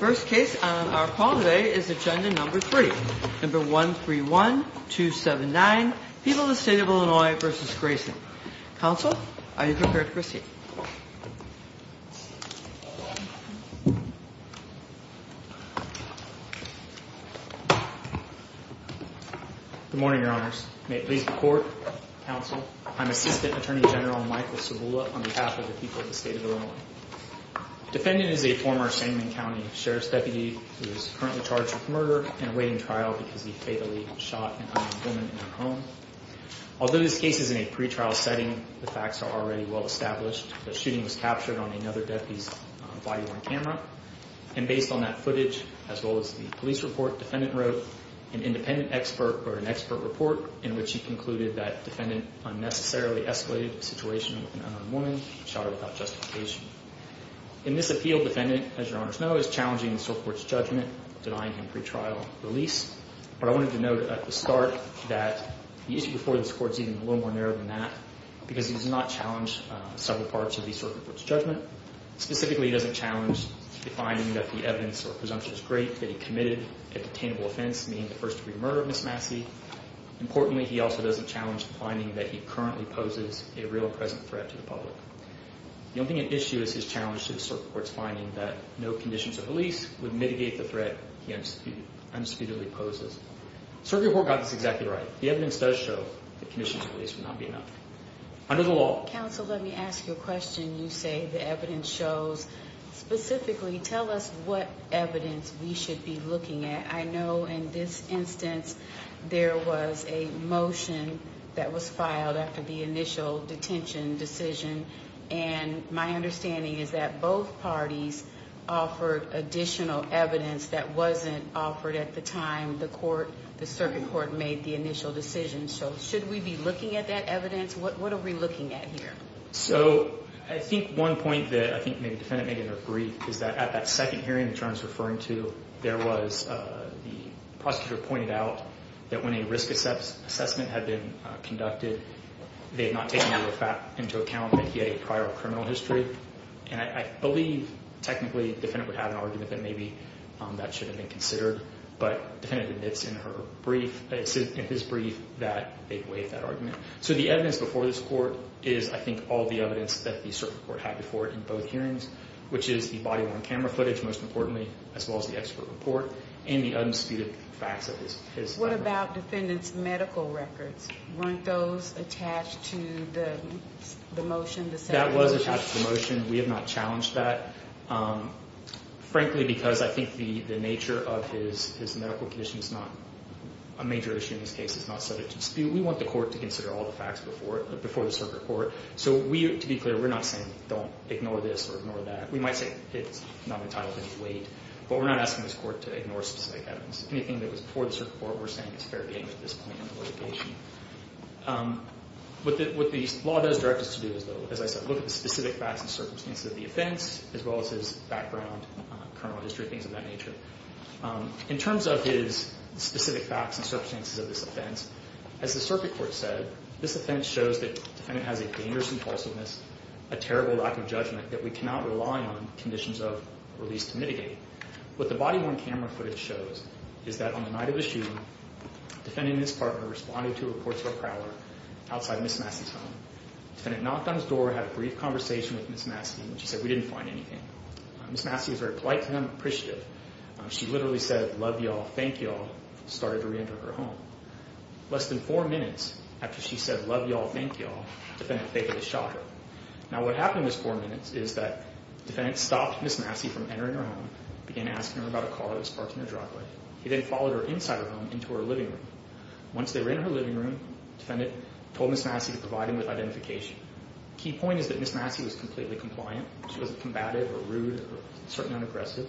First case on our call today is agenda number three, number 131279, People of the State of Illinois v. Grayson. Counsel, are you prepared to proceed? Good morning, Your Honors. May it please the Court, Counsel, I'm Assistant Attorney General Michael Cibula on behalf of the people of the State of Illinois. Defendant is a former Sangamon County Sheriff's Deputy who is currently charged with murder and awaiting trial because he fatally shot an unarmed woman in her home. Although this case is in a pretrial setting, the facts are already well established. The shooting was captured on another deputy's body-worn camera. And based on that footage, as well as the police report, defendant wrote an independent expert or an expert report in which he concluded that defendant unnecessarily escalated the situation with an unarmed woman and shot her without justification. In this appeal, defendant, as Your Honors know, is challenging the Supreme Court's judgment, denying him pretrial release. But I wanted to note at the start that the issue before this Court is even a little more narrow than that because he does not challenge several parts of the Supreme Court's judgment. Specifically, he doesn't challenge the finding that the evidence or presumption is great that he committed a detainable offense, meaning the first-degree murder of Ms. Massey. Importantly, he also doesn't challenge the finding that he currently poses a real and present threat to the public. The only thing at issue is his challenge to the Supreme Court's finding that no conditions of release would mitigate the threat he undisputedly poses. Circuit Court got this exactly right. The evidence does show that conditions of release would not be enough. Under the law… Counsel, let me ask you a question. You say the evidence shows. Specifically, tell us what evidence we should be looking at. I know in this instance there was a motion that was filed after the initial detention decision. And my understanding is that both parties offered additional evidence that wasn't offered at the time the Circuit Court made the initial decision. So should we be looking at that evidence? What are we looking at here? So I think one point that I think maybe the defendant made in her brief is that at that second hearing, which I was referring to, there was the prosecutor pointed out that when a risk assessment had been conducted, they had not taken into account that he had a prior criminal history. And I believe technically the defendant would have an argument that maybe that should have been considered. But the defendant admits in her brief, in his brief, that they waived that argument. So the evidence before this court is, I think, all the evidence that the Circuit Court had before it in both hearings, which is the body-worn camera footage, most importantly, as well as the expert report and the undisputed facts of his… What about defendant's medical records? Weren't those attached to the motion, the second motion? That was attached to the motion. We have not challenged that, frankly, because I think the nature of his medical condition is not a major issue in this case. It's not subject to dispute. We want the court to consider all the facts before the Circuit Court. So to be clear, we're not saying don't ignore this or ignore that. We might say it's not entitled to be weighed, but we're not asking this court to ignore specific evidence. Anything that was before the Circuit Court, we're saying it's fair game at this point in the litigation. What the law does direct us to do is, as I said, look at the specific facts and circumstances of the offense, as well as his background, criminal history, things of that nature. In terms of his specific facts and circumstances of this offense, as the Circuit Court said, this offense shows that the defendant has a dangerous impulsiveness, a terrible lack of judgment, that we cannot rely on conditions of release to mitigate. What the body-worn camera footage shows is that on the night of the shooting, the defendant and his partner responded to reports of a prowler outside Ms. Massey's home. The defendant knocked on his door, had a brief conversation with Ms. Massey, and she said, Ms. Massey was very polite to them, appreciative. She literally said, love y'all, thank y'all, and started to reenter her home. Less than four minutes after she said, love y'all, thank y'all, the defendant fakely shot her. Now, what happened in those four minutes is that the defendant stopped Ms. Massey from entering her home, began asking her about a call that was parked in her driveway. He then followed her inside her home into her living room. Once they were in her living room, the defendant told Ms. Massey to provide him with identification. The key point is that Ms. Massey was completely compliant. She wasn't combative or rude or certainly unaggressive.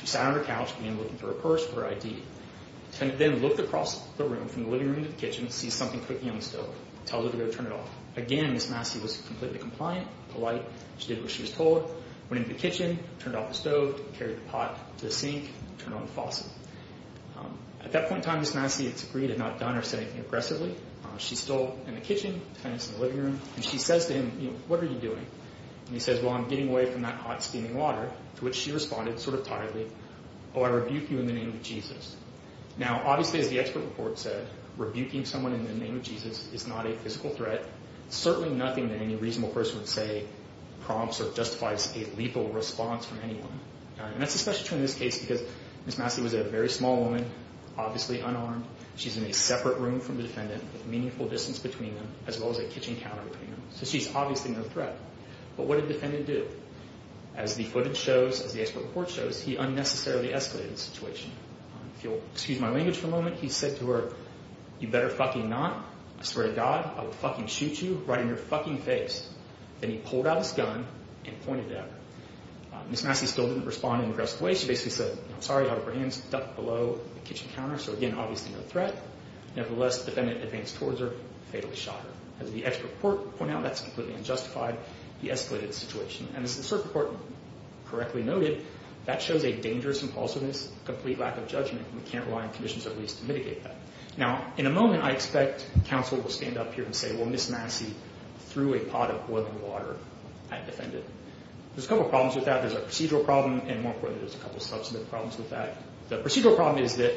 She sat on her couch, began looking through her purse for her ID. The defendant then looked across the room from the living room to the kitchen, sees something cooking on the stove, tells her to go turn it off. Again, Ms. Massey was completely compliant, polite. She did what she was told, went into the kitchen, turned off the stove, carried the pot to the sink, turned on the faucet. At that point in time, Ms. Massey disagreed, had not done or said anything aggressively. She's still in the kitchen, the defendant's in the living room, and she says to him, you know, what are you doing? And he says, well, I'm getting away from that hot steaming water, to which she responded sort of tiredly, oh, I rebuke you in the name of Jesus. Now, obviously, as the expert report said, rebuking someone in the name of Jesus is not a physical threat, certainly nothing that any reasonable person would say prompts or justifies a lethal response from anyone. And that's especially true in this case because Ms. Massey was a very small woman, obviously unarmed. She's in a separate room from the defendant with meaningful distance between them, as well as a kitchen counter between them. So she's obviously no threat. But what did the defendant do? As the footage shows, as the expert report shows, he unnecessarily escalated the situation. If you'll excuse my language for a moment, he said to her, you better fucking not. I swear to God, I will fucking shoot you right in your fucking face. Then he pulled out his gun and pointed it at her. Ms. Massey still didn't respond in an aggressive way. She basically said, I'm sorry, out of her hands, ducked below the kitchen counter. So, again, obviously no threat. Nevertheless, the defendant advanced towards her, fatally shot her. As the expert report pointed out, that's completely unjustified. He escalated the situation. And as the circuit court correctly noted, that shows a dangerous impulsiveness, complete lack of judgment. We can't rely on conditions of release to mitigate that. Now, in a moment, I expect counsel will stand up here and say, well, Ms. Massey threw a pot of boiling water at the defendant. There's a couple problems with that. There's a procedural problem. And more importantly, there's a couple of substantive problems with that. The procedural problem is that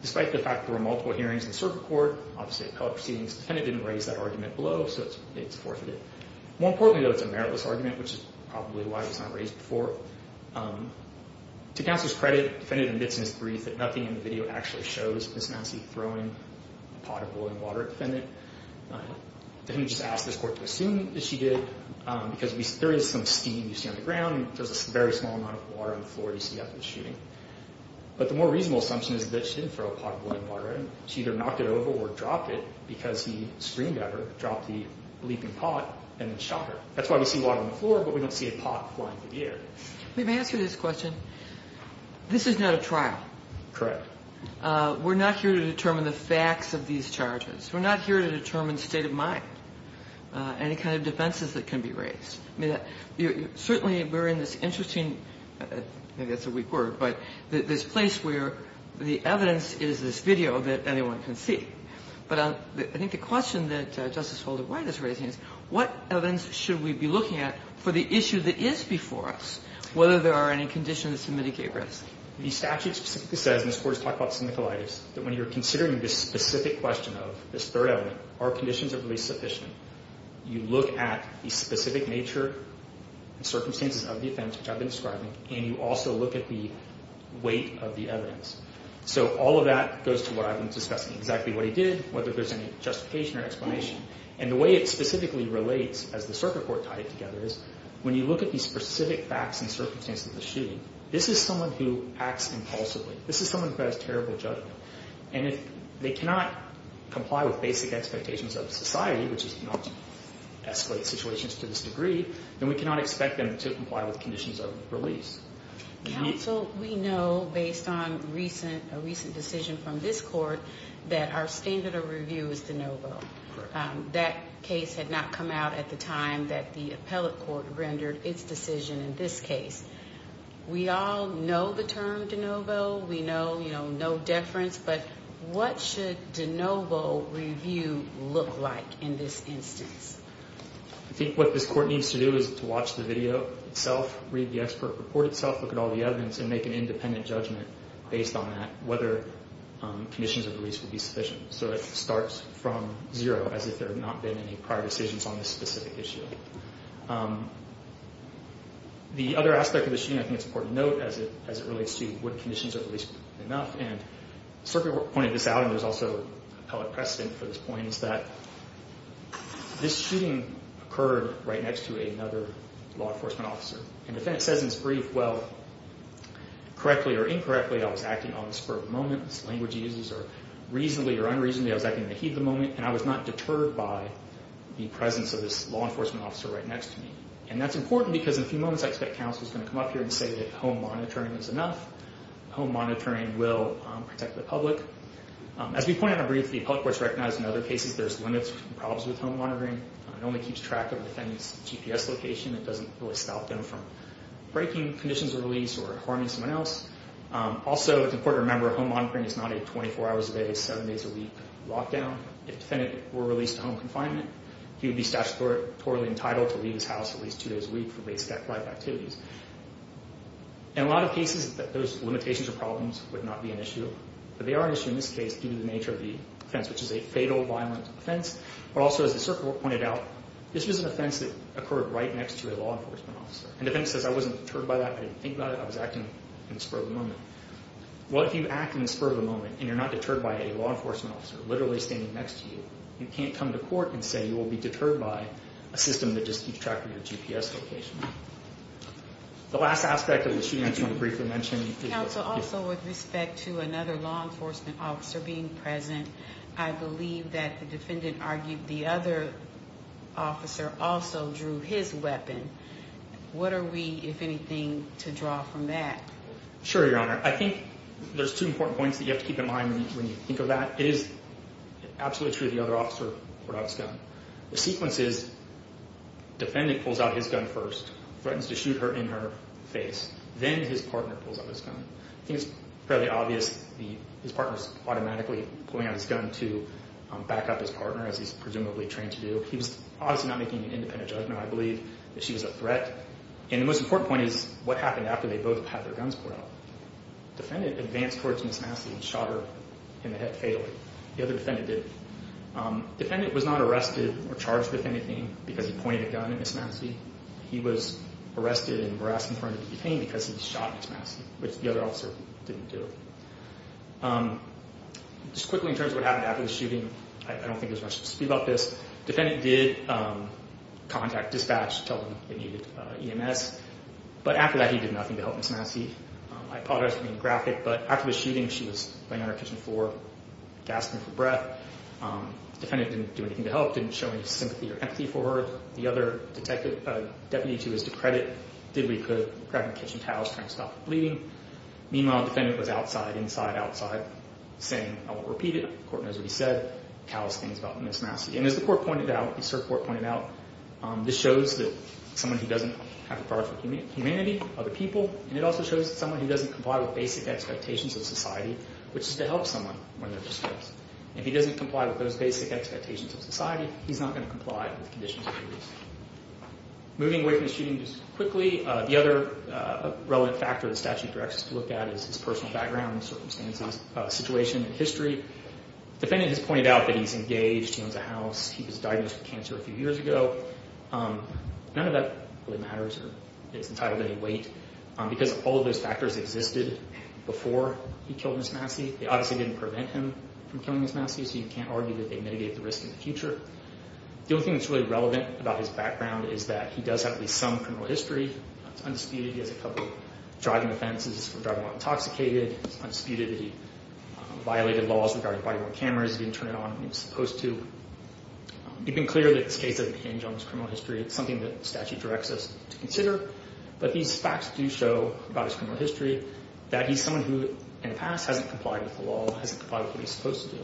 despite the fact there were multiple hearings in the circuit court, obviously a couple of proceedings, the defendant didn't raise that argument below, so it's forfeited. More importantly, though, it's a meritless argument, which is probably why it was not raised before. To counsel's credit, the defendant admits in his brief that nothing in the video actually shows Ms. Massey throwing a pot of boiling water at the defendant. The defendant just asked this court to assume that she did because there is some steam you see on the ground and there's a very small amount of water on the floor you see after the shooting. But the more reasonable assumption is that she didn't throw a pot of boiling water at him. She either knocked it over or dropped it because he screamed at her, dropped the leaping pot, and then shot her. That's why we see water on the floor, but we don't see a pot flying through the air. Let me answer this question. This is not a trial. Correct. We're not here to determine the facts of these charges. We're not here to determine state of mind, any kind of defenses that can be raised. Certainly, we're in this interesting, maybe that's a weak word, but this place where the evidence is this video that anyone can see. But I think the question that Justice Holder White is raising is, what evidence should we be looking at for the issue that is before us, whether there are any conditions to mitigate risk? The statute specifically says, and this Court has talked about syndicalitis, that when you're considering this specific question of this third element, are conditions of release sufficient? You look at the specific nature and circumstances of the offense, which I've been describing, and you also look at the weight of the evidence. So all of that goes to what I've been discussing, exactly what he did, whether there's any justification or explanation. And the way it specifically relates, as the circuit court tied it together, is when you look at the specific facts and circumstances of the shooting, this is someone who acts impulsively. This is someone who has terrible judgment. And if they cannot comply with basic expectations of society, which is to not escalate situations to this degree, then we cannot expect them to comply with conditions of release. Counsel, we know, based on a recent decision from this Court, that our standard of review is de novo. That case had not come out at the time that the appellate court rendered its decision in this case. We all know the term de novo. We know no deference. But what should de novo review look like in this instance? I think what this Court needs to do is to watch the video itself, read the expert report itself, look at all the evidence, and make an independent judgment based on that, whether conditions of release would be sufficient. So it starts from zero, as if there had not been any prior decisions on this specific issue. The other aspect of the shooting, I think it's important to note, as it relates to would conditions of release be enough. And Slippy pointed this out, and there's also appellate precedent for this point, is that this shooting occurred right next to another law enforcement officer. And the defendant says in his brief, well, correctly or incorrectly, I was acting on the spur of the moment. This language he uses, or reasonably or unreasonably, I was acting in the heat of the moment, and I was not deterred by the presence of this law enforcement officer right next to me. And that's important because in a few moments, I expect counsel is going to come up here and say that home monitoring is enough. Home monitoring will protect the public. As we pointed out briefly, public courts recognize in other cases there's limits and problems with home monitoring. It only keeps track of the defendant's GPS location. It doesn't really stop them from breaking conditions of release or harming someone else. Also, it's important to remember, home monitoring is not a 24 hours a day, 7 days a week lockdown. If the defendant were released to home confinement, he would be statutorily entitled to leave his house at least 2 days a week for basic life activities. In a lot of cases, those limitations or problems would not be an issue. But they are an issue in this case due to the nature of the offense, which is a fatal, violent offense. But also, as the circuit court pointed out, this was an offense that occurred right next to a law enforcement officer. And the defendant says, I wasn't deterred by that. I didn't think about it. I was acting in the spur of the moment. Well, if you act in the spur of the moment, and you're not deterred by a law enforcement officer literally standing next to you, you can't come to court and say you will be deterred by a system that just keeps track of your GPS location. The last aspect of the shooting I just want to briefly mention. Counsel, also with respect to another law enforcement officer being present, I believe that the defendant argued the other officer also drew his weapon. What are we, if anything, to draw from that? Sure, Your Honor. I think there's two important points that you have to keep in mind when you think of that. It is absolutely true the other officer pulled out his gun. The sequence is defendant pulls out his gun first, threatens to shoot her in her face. Then his partner pulls out his gun. I think it's fairly obvious his partner is automatically pulling out his gun to back up his partner, as he's presumably trained to do. He was obviously not making an independent judgment, I believe, that she was a threat. And the most important point is what happened after they both had their guns pulled out. Defendant advanced towards Ms. Massey and shot her in the head fatally. The other defendant didn't. Defendant was not arrested or charged with anything because he pointed a gun at Ms. Massey. He was arrested and harassed in front of the detainee because he shot Ms. Massey, which the other officer didn't do. Just quickly in terms of what happened after the shooting, I don't think there's much to speak about this. Defendant did contact dispatch to tell them they needed EMS. But after that, he did nothing to help Ms. Massey. I apologize for being graphic, but after the shooting, she was laying on her kitchen floor, gasping for breath. Defendant didn't do anything to help, didn't show any sympathy or empathy for her. The other deputy who was to credit did what he could, grabbing kitchen towels, trying to stop her bleeding. Meanwhile, defendant was outside, inside, outside, saying, I won't repeat it. Court knows what he said, calloused things about Ms. Massey. And as the court pointed out, the cert court pointed out, this shows that someone who doesn't have a product of humanity are the people, and it also shows that someone who doesn't comply with basic expectations of society, which is to help someone when they're distressed. If he doesn't comply with those basic expectations of society, he's not going to comply with the conditions of the police. Moving away from the shooting just quickly, the other relevant factor the statute directs us to look at is his personal background, circumstances, situation, and history. Defendant has pointed out that he's engaged, he owns a house, he was diagnosed with cancer a few years ago. None of that really matters or is entitled to any weight because all of those factors existed before he killed Ms. Massey. They obviously didn't prevent him from killing Ms. Massey, so you can't argue that they mitigated the risk in the future. The only thing that's really relevant about his background is that he does have at least some criminal history. It's undisputed. He has a couple of driving offenses for driving while intoxicated. It's undisputed that he violated laws regarding body-worn cameras. He didn't turn it on when he was supposed to. It's been clear that this case doesn't change on his criminal history. It's something that the statute directs us to consider, but these facts do show about his criminal history that he's someone who in the past hasn't complied with the law, hasn't complied with what he's supposed to do,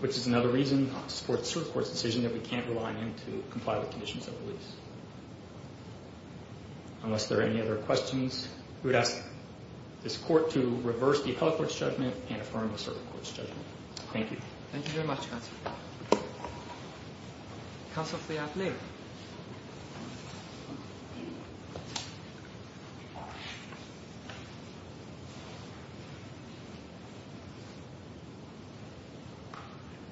which is another reason not to support the Supreme Court's decision that we can't rely on him to comply with conditions of the police. Unless there are any other questions, we would ask this court to reverse the Appellate Court's judgment and affirm the Supreme Court's judgment. Thank you. Thank you very much, Counselor. Counsel for the appellee.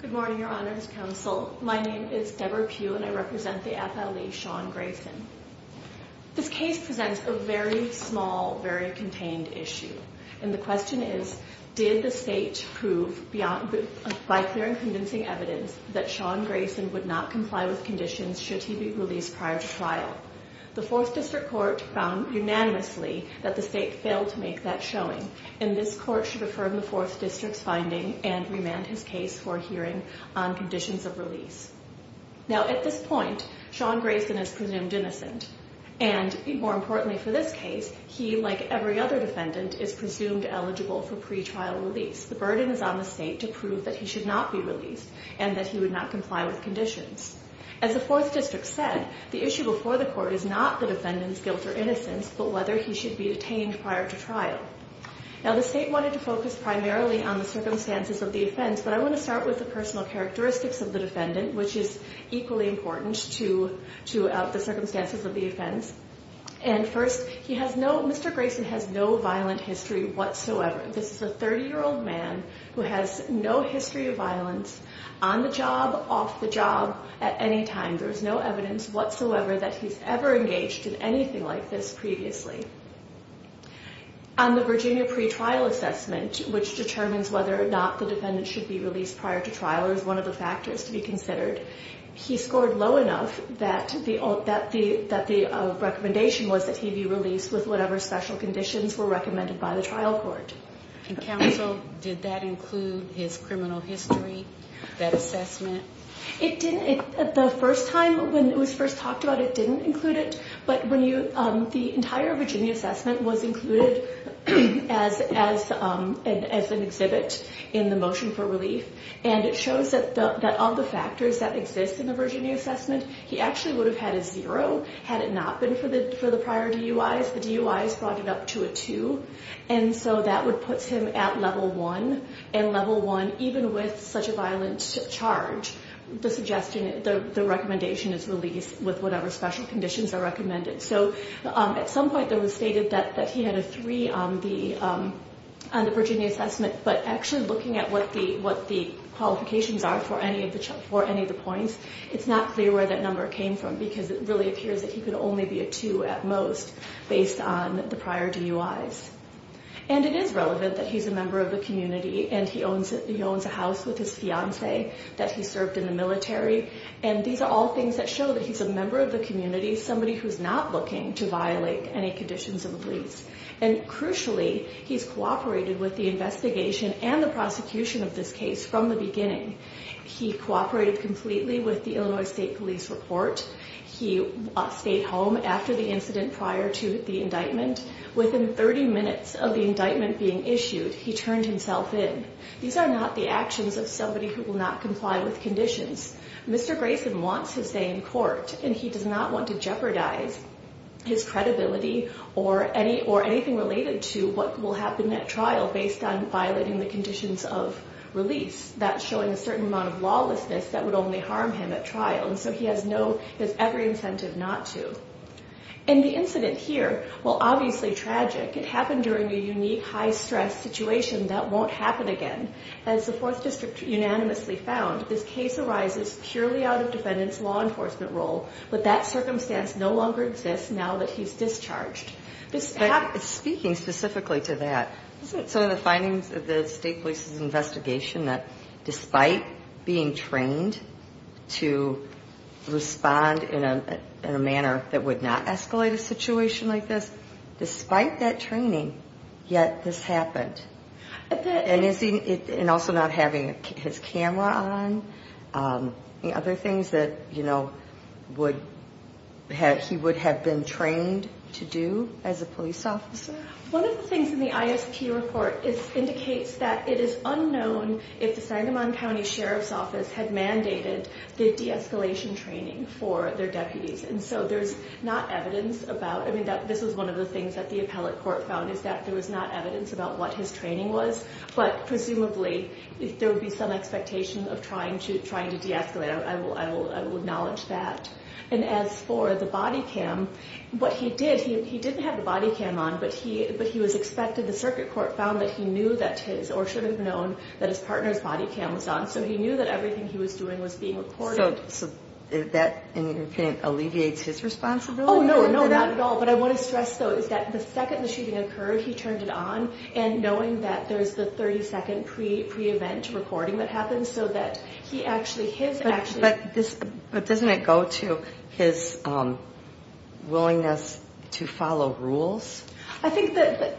Good morning, Your Honors Counsel. My name is Deborah Pugh, and I represent the appellee, Sean Grayson. This case presents a very small, very contained issue, and the question is, did the state prove by clear and convincing evidence that Sean Grayson would not comply with conditions should he be released prior to trial? The Fourth District Court found unanimously that the state failed to make that showing, and this court should affirm the Fourth District's finding and remand his case for hearing on conditions of release. Now, at this point, Sean Grayson is presumed innocent, and more importantly for this case, he, like every other defendant, is presumed eligible for pretrial release. The burden is on the state to prove that he should not be released and that he would not comply with conditions. As the Fourth District said, the issue before the court is not the defendant's guilt or innocence, but whether he should be detained prior to trial. Now, the state wanted to focus primarily on the circumstances of the offense, but I want to start with the personal characteristics of the defendant, which is equally important to the circumstances of the offense. And first, Mr. Grayson has no violent history whatsoever. This is a 30-year-old man who has no history of violence on the job, off the job, at any time. There is no evidence whatsoever that he's ever engaged in anything like this previously. On the Virginia pretrial assessment, which determines whether or not the defendant should be released prior to trial is one of the factors to be considered, he scored low enough that the recommendation was that he be released with whatever special conditions were recommended by the trial court. And counsel, did that include his criminal history, that assessment? It didn't. The first time when it was first talked about, it didn't include it. But the entire Virginia assessment was included as an exhibit in the motion for relief. And it shows that of the factors that exist in the Virginia assessment, he actually would have had a zero had it not been for the prior DUIs. The DUIs brought it up to a two. And so that would put him at level one. And level one, even with such a violent charge, the suggestion, the recommendation is release with whatever special conditions are recommended. So at some point it was stated that he had a three on the Virginia assessment. But actually looking at what the qualifications are for any of the points, it's not clear where that number came from because it really appears that he could only be a two at most based on the prior DUIs. And it is relevant that he's a member of the community and he owns a house with his fiancee that he served in the military. And these are all things that show that he's a member of the community, somebody who's not looking to violate any conditions of the police. And crucially, he's cooperated with the investigation and the prosecution of this case from the beginning. He cooperated completely with the Illinois State Police report. He stayed home after the incident prior to the indictment. Within 30 minutes of the indictment being issued, he turned himself in. These are not the actions of somebody who will not comply with conditions. Mr. Grayson wants to stay in court, and he does not want to jeopardize his credibility or anything related to what will happen at trial based on violating the conditions of release. That's showing a certain amount of lawlessness that would only harm him at trial. And so he has every incentive not to. And the incident here, while obviously tragic, it happened during a unique high-stress situation that won't happen again. As the Fourth District unanimously found, this case arises purely out of defendant's law enforcement role, but that circumstance no longer exists now that he's discharged. Speaking specifically to that, isn't it some of the findings of the State Police's investigation that despite being trained to respond in a manner that would not escalate a situation like this, despite that training, yet this happened? And also not having his camera on? Any other things that he would have been trained to do as a police officer? One of the things in the ISP report indicates that it is unknown if the Sagamon County Sheriff's Office had mandated the de-escalation training for their deputies. And so there's not evidence about it. This is one of the things that the appellate court found, is that there was not evidence about what his training was, but presumably there would be some expectation of trying to de-escalate. I will acknowledge that. And as for the body cam, what he did, he didn't have the body cam on, but he was expected, the circuit court found that he knew that his, or should have known that his partner's body cam was on, so he knew that everything he was doing was being recorded. So that, in your opinion, alleviates his responsibility? Oh, no, not at all. What I want to stress, though, is that the second the shooting occurred, he turned it on, and knowing that there's the 30-second pre-event recording that happens, so that he actually, his actually... But doesn't it go to his willingness to follow rules? I think that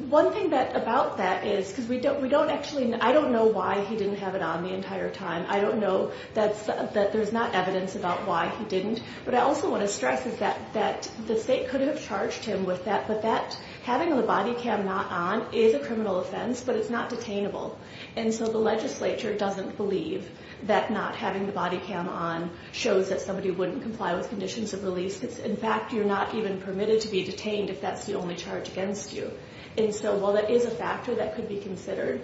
one thing about that is, because we don't actually, I don't know why he didn't have it on the entire time. I don't know that there's not evidence about why he didn't. But I also want to stress is that the state could have charged him with that, but that having the body cam not on is a criminal offense, but it's not detainable. And so the legislature doesn't believe that not having the body cam on shows that somebody wouldn't comply with conditions of release. In fact, you're not even permitted to be detained if that's the only charge against you. And so while that is a factor that could be considered,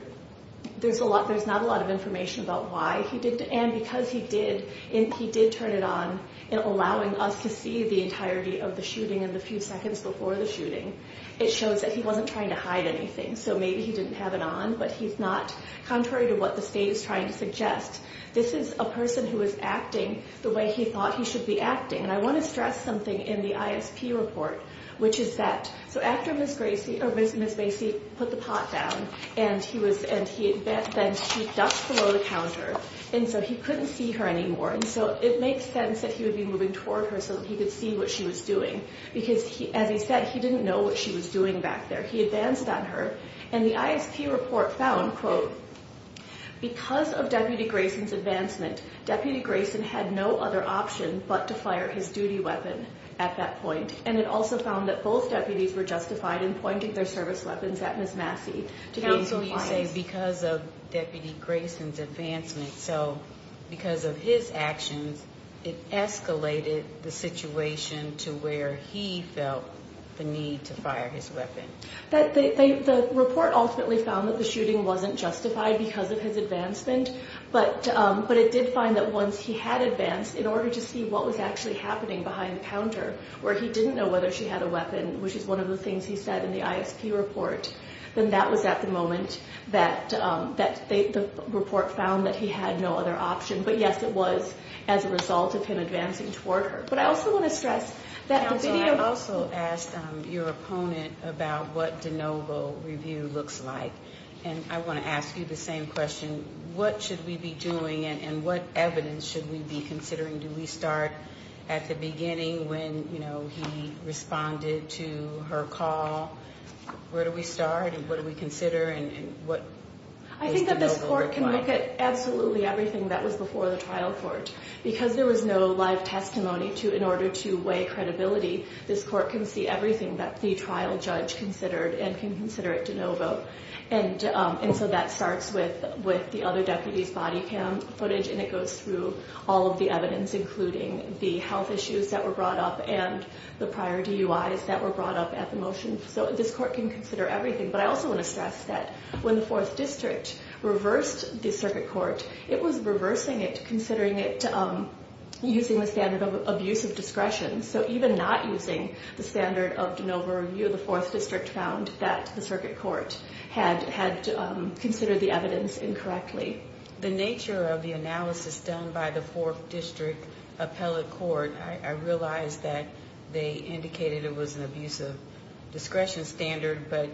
there's not a lot of information about why he did, and because he did, he did turn it on, allowing us to see the entirety of the shooting and the few seconds before the shooting, it shows that he wasn't trying to hide anything. So maybe he didn't have it on, but he's not, contrary to what the state is trying to suggest, this is a person who is acting the way he thought he should be acting. And I want to stress something in the ISP report, which is that, so after Ms. Macy put the pot down, and then she ducked below the counter, and so he couldn't see her anymore, and so it makes sense that he would be moving toward her so that he could see what she was doing, because as he said, he didn't know what she was doing back there. He advanced on her, and the ISP report found, quote, because of Deputy Grayson's advancement, Deputy Grayson had no other option but to fire his duty weapon at that point, and it also found that both deputies were justified in pointing their service weapons at Ms. Macy. So you're saying because of Deputy Grayson's advancement, so because of his actions, it escalated the situation to where he felt the need to fire his weapon. The report ultimately found that the shooting wasn't justified because of his advancement, but it did find that once he had advanced, in order to see what was actually happening behind the counter, where he didn't know whether she had a weapon, which is one of the things he said in the ISP report, then that was at the moment that the report found that he had no other option, but yes, it was as a result of him advancing toward her. But I also want to stress that the video— Counsel, I also asked your opponent about what de novo review looks like, and I want to ask you the same question. What should we be doing, and what evidence should we be considering? Do we start at the beginning when he responded to her call? Where do we start, and what do we consider, and what does de novo look like? I think that this court can look at absolutely everything that was before the trial court. Because there was no live testimony in order to weigh credibility, this court can see everything that the trial judge considered and can consider it de novo. And so that starts with the other deputies' body cam footage, and it goes through all of the evidence, including the health issues that were brought up and the prior DUIs that were brought up at the motion. So this court can consider everything. But I also want to stress that when the 4th District reversed the circuit court, it was reversing it, considering it using the standard of abuse of discretion. So even not using the standard of de novo review, the 4th District found that the circuit court had considered the evidence incorrectly. The nature of the analysis done by the 4th District appellate court, I realize that they indicated it was an abuse of discretion standard, but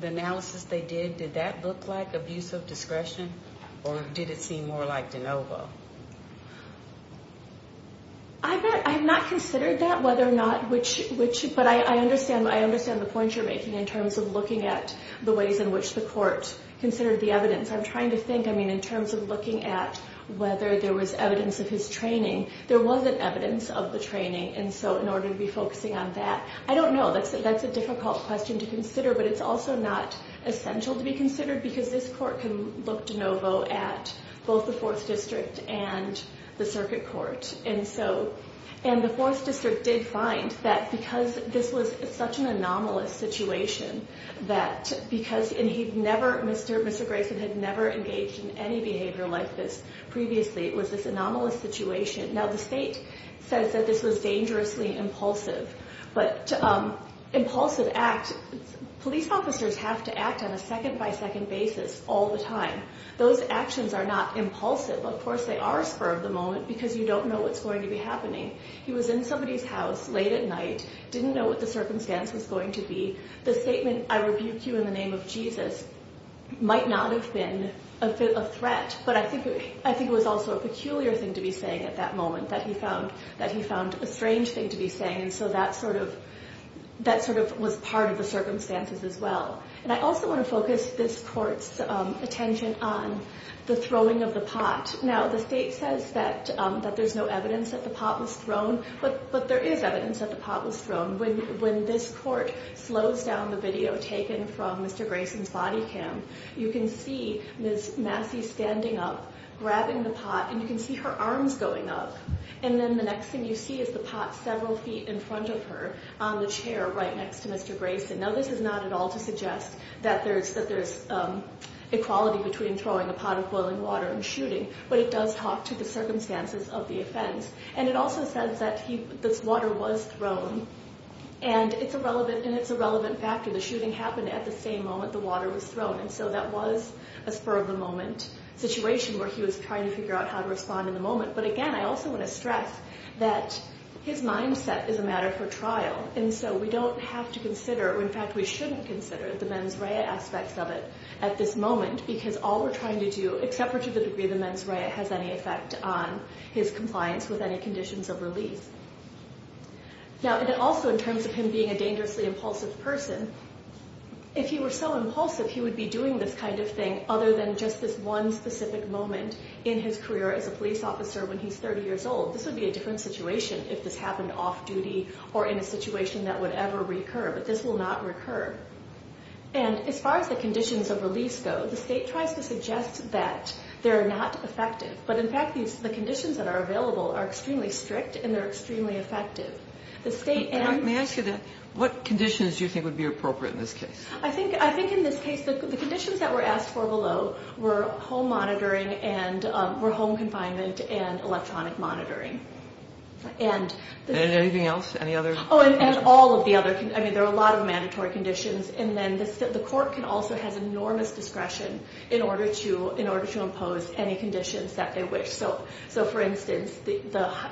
the analysis they did, did that look like abuse of discretion, or did it seem more like de novo? I have not considered that, whether or not which, but I understand the point you're making in terms of looking at the ways in which the court considered the evidence. I'm trying to think, I mean, in terms of looking at whether there was evidence of his training. There wasn't evidence of the training, and so in order to be focusing on that, I don't know, that's a difficult question to consider, but it's also not essential to be considered, because this court can look de novo at both the 4th District and the circuit court. And the 4th District did find that because this was such an anomalous situation, that because, and he'd never, Mr. Grayson had never engaged in any behavior like this previously. It was this anomalous situation. Now, the state says that this was dangerously impulsive, but impulsive acts, police officers have to act on a second-by-second basis all the time. Those actions are not impulsive. Of course, they are spur-of-the-moment, because you don't know what's going to be happening. He was in somebody's house late at night, didn't know what the circumstance was going to be. The statement, I rebuke you in the name of Jesus, might not have been a threat, but I think it was also a peculiar thing to be saying at that moment, that he found a strange thing to be saying, and so that sort of was part of the circumstances as well. And I also want to focus this court's attention on the throwing of the pot. Now, the state says that there's no evidence that the pot was thrown, but there is evidence that the pot was thrown. When this court slows down the video taken from Mr. Grayson's body cam, you can see Ms. Massey standing up, grabbing the pot, and you can see her arms going up. And then the next thing you see is the pot several feet in front of her on the chair right next to Mr. Grayson. Now, this is not at all to suggest that there's equality between throwing a pot of boiling water and shooting, but it does talk to the circumstances of the offense. And it also says that this water was thrown, and it's a relevant factor. The shooting happened at the same moment the water was thrown, and so that was a spur-of-the-moment situation where he was trying to figure out how to respond in the moment. But again, I also want to stress that his mindset is a matter for trial, and so we don't have to consider, or in fact we shouldn't consider the mens rea aspects of it at this moment, because all we're trying to do, except for to the degree the mens rea has any effect on his compliance with any conditions of release. Now, and also in terms of him being a dangerously impulsive person, if he were so impulsive he would be doing this kind of thing other than just this one specific moment in his career as a police officer when he's 30 years old. This would be a different situation if this happened off-duty or in a situation that would ever recur, but this will not recur. And as far as the conditions of release go, the state tries to suggest that they're not effective, but in fact the conditions that are available are extremely strict and they're extremely effective. The state and... May I ask you that? What conditions do you think would be appropriate in this case? I think in this case the conditions that were asked for below were home monitoring and were home confinement and electronic monitoring. And anything else? Any other? Oh, and all of the other. I mean, there are a lot of mandatory conditions, and then the court can also have enormous discretion in order to impose any conditions that they wish. So, for instance,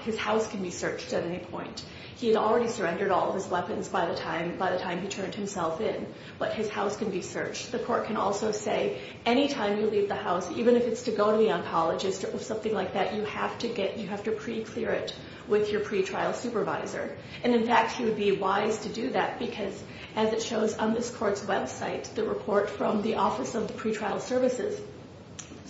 his house can be searched at any point. He had already surrendered all of his weapons by the time he turned himself in, but his house can be searched. The court can also say any time you leave the house, even if it's to go to the oncologist or something like that, you have to pre-clear it with your pre-trial supervisor. And in fact, it would be wise to do that because, as it shows on this court's website, the report from the Office of Pre-trial Services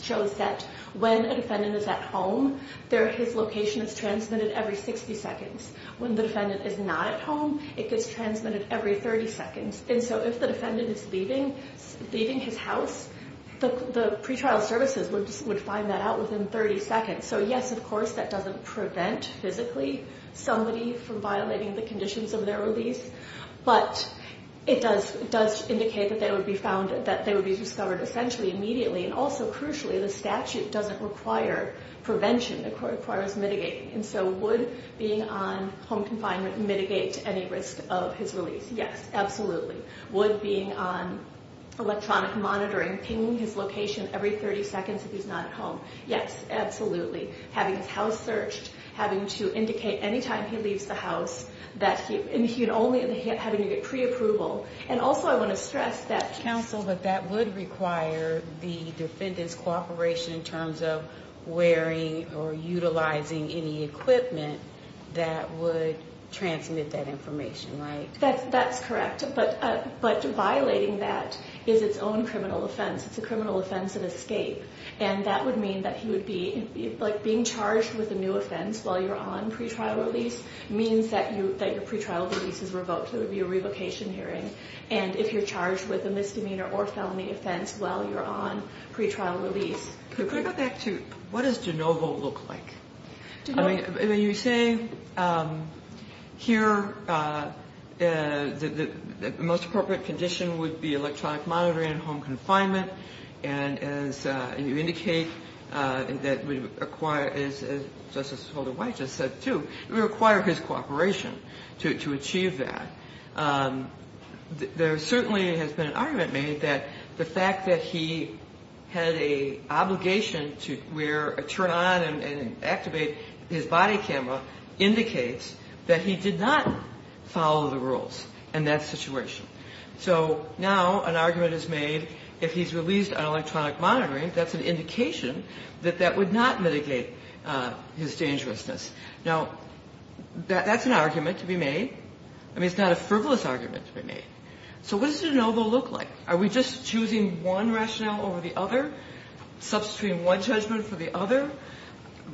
shows that when a defendant is at home, his location is transmitted every 60 seconds. When the defendant is not at home, it gets transmitted every 30 seconds. And so if the defendant is leaving his house, the pre-trial services would find that out within 30 seconds. So, yes, of course, that doesn't prevent physically somebody from violating the conditions of their release, but it does indicate that they would be discovered essentially immediately. And also, crucially, the statute doesn't require prevention. The court requires mitigating. And so would being on home confinement mitigate any risk of his release? Yes, absolutely. Would being on electronic monitoring ping his location every 30 seconds if he's not at home? Yes, absolutely. Having his house searched, having to indicate any time he leaves the house, and only having to get pre-approval. And also I want to stress that… Counsel, but that would require the defendant's cooperation in terms of wearing or utilizing any equipment that would transmit that information, right? That's correct. But violating that is its own criminal offense. It's a criminal offense of escape. And that would mean that he would be, like, being charged with a new offense while you're on pre-trial release means that your pre-trial release is revoked. It would be a revocation hearing. And if you're charged with a misdemeanor or felony offense while you're on pre-trial release… Could I go back to what does de novo look like? I mean, you say here the most appropriate condition would be electronic monitoring and home confinement, and you indicate that we require, as Justice Holder-White just said too, we require his cooperation to achieve that. There certainly has been an argument made that the fact that he had an obligation to wear, turn on, and activate his body camera indicates that he did not follow the rules in that situation. So now an argument is made if he's released on electronic monitoring, that's an indication that that would not mitigate his dangerousness. Now, that's an argument to be made. I mean, it's not a frivolous argument to be made. So what does de novo look like? Are we just choosing one rationale over the other, substituting one judgment for the other,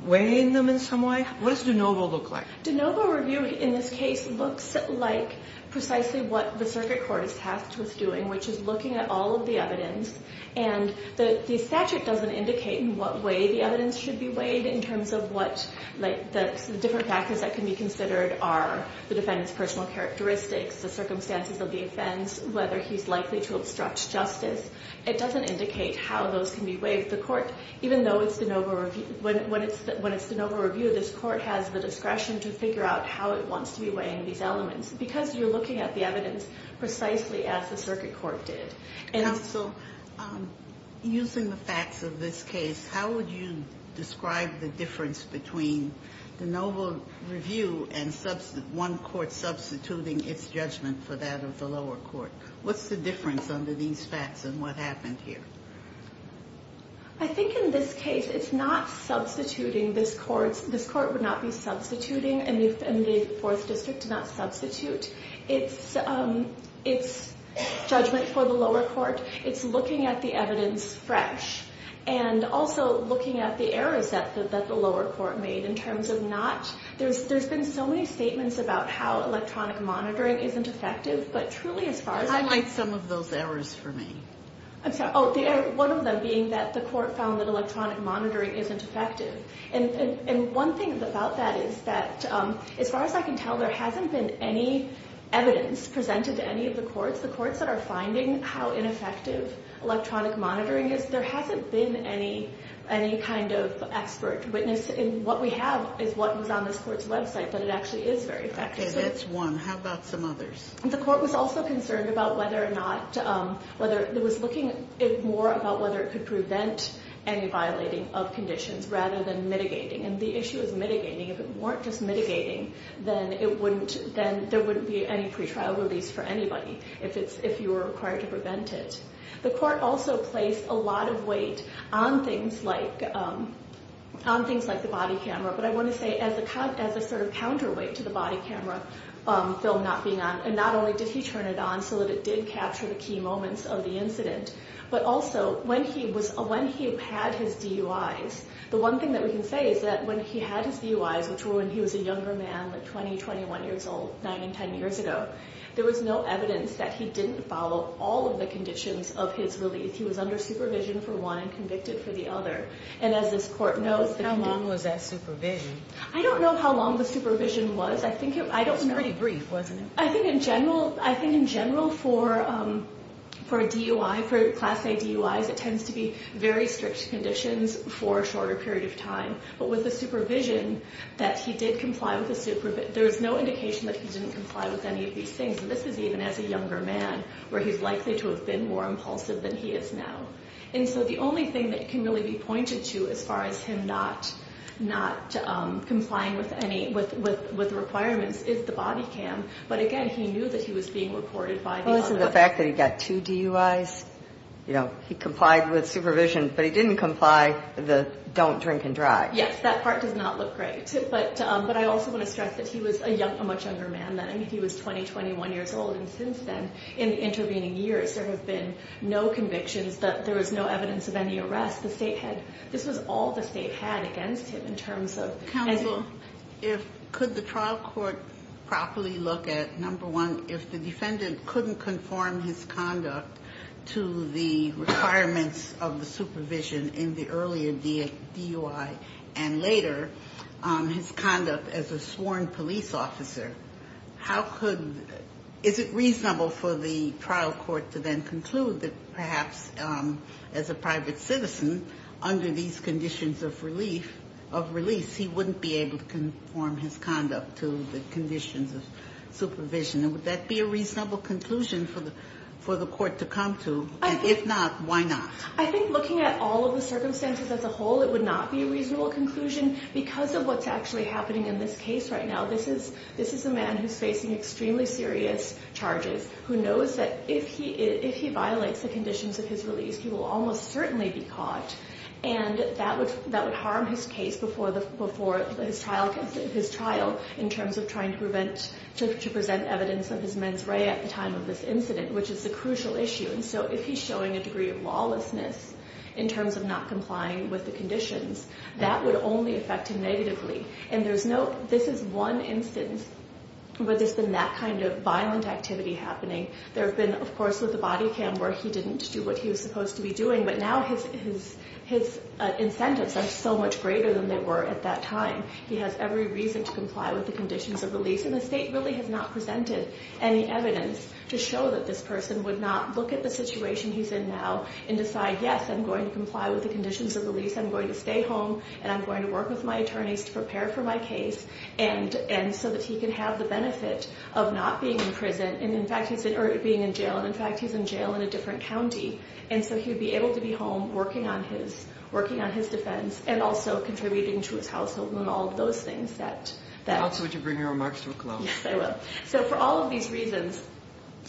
weighing them in some way? What does de novo look like? De novo review in this case looks like precisely what the circuit court is tasked with doing, which is looking at all of the evidence, and the statute doesn't indicate in what way the evidence should be weighed in terms of what the different factors that can be considered are, the defendant's personal characteristics, the circumstances of the offense, whether he's likely to obstruct justice. It doesn't indicate how those can be weighed. The court, even though it's de novo review, when it's de novo review, this court has the discretion to figure out how it wants to be weighing these elements, because you're looking at the evidence precisely as the circuit court did. Counsel, using the facts of this case, how would you describe the difference between de novo review and one court substituting its judgment for that of the lower court? What's the difference under these facts, and what happened here? I think in this case, it's not substituting. This court would not be substituting, and the Fourth District did not substitute. It's judgment for the lower court. It's looking at the evidence fresh, and also looking at the errors that the lower court made in terms of not... Highlight some of those errors for me. One of them being that the court found that electronic monitoring isn't effective. One thing about that is that, as far as I can tell, there hasn't been any evidence presented to any of the courts. The courts that are finding how ineffective electronic monitoring is, there hasn't been any kind of expert witness. What we have is what was on this court's website, but it actually is very effective. That's one. How about some others? The court was also concerned about whether or not... It was looking more about whether it could prevent any violating of conditions rather than mitigating, and the issue is mitigating. If it weren't just mitigating, then there wouldn't be any pretrial release for anybody if you were required to prevent it. The court also placed a lot of weight on things like the body camera, but I want to say as a sort of counterweight to the body camera film not being on, and not only did he turn it on so that it did capture the key moments of the incident, but also when he had his DUIs. The one thing that we can say is that when he had his DUIs, which were when he was a younger man, like 20, 21 years old, 9 and 10 years ago, there was no evidence that he didn't follow all of the conditions of his release. He was under supervision for one and convicted for the other. And as this court knows... How long was that supervision? I don't know how long the supervision was. It was pretty brief, wasn't it? I think in general for a DUI, for Class A DUIs, it tends to be very strict conditions for a shorter period of time, but with the supervision that he did comply with the... There was no indication that he didn't comply with any of these things, and this is even as a younger man where he's likely to have been more impulsive than he is now. And so the only thing that can really be pointed to as far as him not complying with requirements is the body cam. But again, he knew that he was being reported by the... Well, isn't the fact that he got two DUIs? You know, he complied with supervision, but he didn't comply with the don't drink and drive. Yes, that part does not look great. But I also want to stress that he was a much younger man then. I mean, he was 20, 21 years old. In the intervening years, there have been no convictions. There was no evidence of any arrests. This was all the state had against him in terms of... Counsel, could the trial court properly look at, number one, if the defendant couldn't conform his conduct to the requirements of the supervision in the earlier DUI and later his conduct as a sworn police officer, how could... is it reasonable for the trial court to then conclude that perhaps as a private citizen, under these conditions of release, he wouldn't be able to conform his conduct to the conditions of supervision? And would that be a reasonable conclusion for the court to come to? And if not, why not? I think looking at all of the circumstances as a whole, it would not be a reasonable conclusion because of what's actually happening in this case right now. This is a man who's facing extremely serious charges, who knows that if he violates the conditions of his release, he will almost certainly be caught. And that would harm his case before his trial in terms of trying to present evidence of his mens rea at the time of this incident, which is a crucial issue. And so if he's showing a degree of lawlessness in terms of not complying with the conditions, that would only affect him negatively. And there's no... this is one instance where there's been that kind of violent activity happening. There have been, of course, with the body cam where he didn't do what he was supposed to be doing, but now his incentives are so much greater than they were at that time. He has every reason to comply with the conditions of release, and the state really has not presented any evidence to show that this person would not look at the situation he's in now and decide, yes, I'm going to comply with the conditions of release, I'm going to stay home, and I'm going to work with my attorneys to prepare for my case, and so that he can have the benefit of not being in prison, or being in jail. And, in fact, he's in jail in a different county. And so he would be able to be home working on his defense and also contributing to his household and all of those things that... Also, would you bring your remarks to a close? Yes, I will. So, for all of these reasons,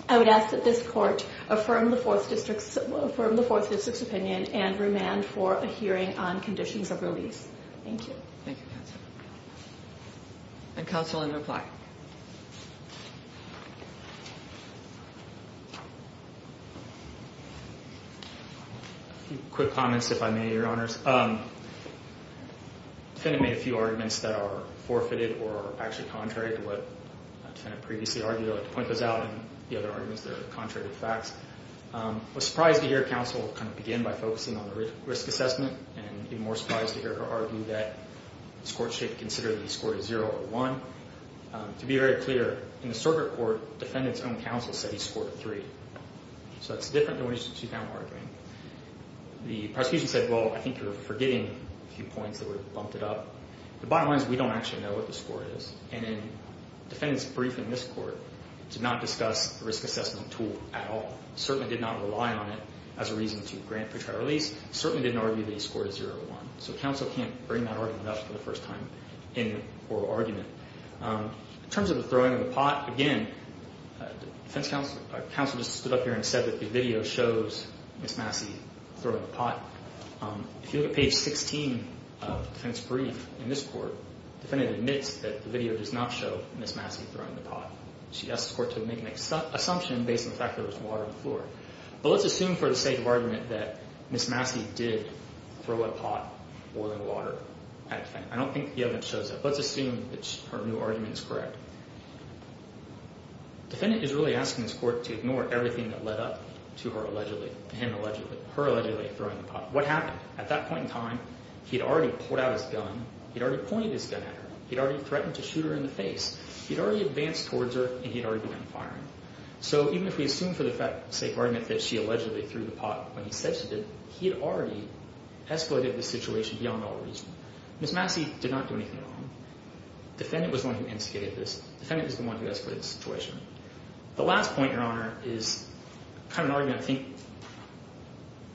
I would ask that this court affirm the Fourth District's opinion and remand for a hearing on conditions of release. Thank you. Thank you, Counsel. And, Counsel, in reply. A few quick comments, if I may, Your Honors. The defendant made a few arguments that are forfeited or actually contrary to what the defendant previously argued. I'd like to point those out and the other arguments that are contrary to the facts. I was surprised to hear Counsel kind of begin by focusing on the risk assessment and even more surprised to hear her argue that this court should consider that he scored a zero or a one. To be very clear, in the circuit court, the defendant's own counsel said he scored a three. So, that's different than what you just found arguing. The prosecution said, well, I think you're forgetting a few points that were bumped it up. The bottom line is we don't actually know what the score is. And the defendant's brief in this court did not discuss the risk assessment tool at all, certainly did not rely on it as a reason to grant for trial release, certainly didn't argue that he scored a zero or a one. So, Counsel can't bring that argument up for the first time in oral argument. In terms of the throwing of the pot, again, the defense counsel just stood up here and said that the video shows Ms. Massey throwing the pot. If you look at page 16 of the defense brief in this court, the defendant admits that the video does not show Ms. Massey throwing the pot. She asks the court to make an assumption based on the fact that there was water on the floor. But let's assume for the sake of argument that Ms. Massey did throw a pot boiling water at the defendant. I don't think the evidence shows that. Let's assume that her new argument is correct. Defendant is really asking this court to ignore everything that led up to her allegedly throwing the pot. What happened? At that point in time, he had already pulled out his gun. He had already pointed his gun at her. He had already threatened to shoot her in the face. He had already advanced towards her and he had already begun firing. So, even if we assume for the sake of argument that she allegedly threw the pot when he said she did, he had already escalated the situation beyond all reason. Ms. Massey did not do anything wrong. Defendant was the one who instigated this. Defendant is the one who escalated the situation. The last point, Your Honor, is kind of an argument I think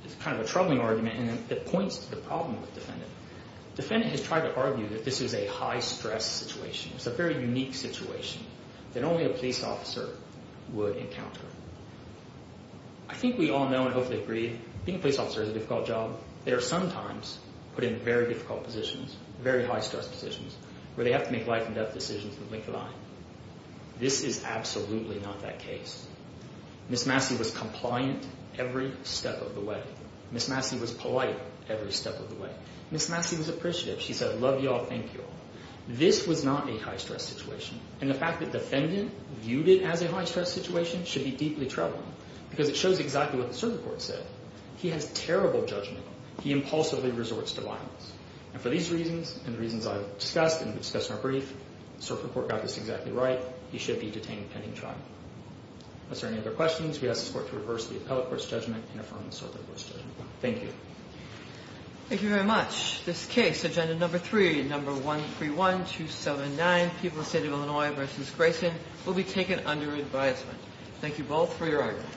is kind of a troubling argument and it points to the problem with the defendant. Defendant has tried to argue that this is a high-stress situation. It's a very unique situation that only a police officer would encounter. I think we all know and hopefully agree being a police officer is a difficult job. They are sometimes put in very difficult positions, very high-stress positions, where they have to make life-and-death decisions that link the line. This is absolutely not that case. Ms. Massey was compliant every step of the way. Ms. Massey was polite every step of the way. Ms. Massey was appreciative. She said, love you all, thank you all. This was not a high-stress situation, and the fact that defendant viewed it as a high-stress situation should be deeply troubling because it shows exactly what the circuit court said. He has terrible judgment. He impulsively resorts to violence. For these reasons and the reasons I've discussed and discussed in our brief, the circuit court got this exactly right. He should be detained pending trial. If there are any other questions, we ask the court to reverse the appellate court's judgment and affirm the circuit court's judgment. Thank you. Thank you very much. This case, Agenda Number 3, Number 131279, People of the State of Illinois v. Grayson, will be taken under advisement. Thank you both for your argument.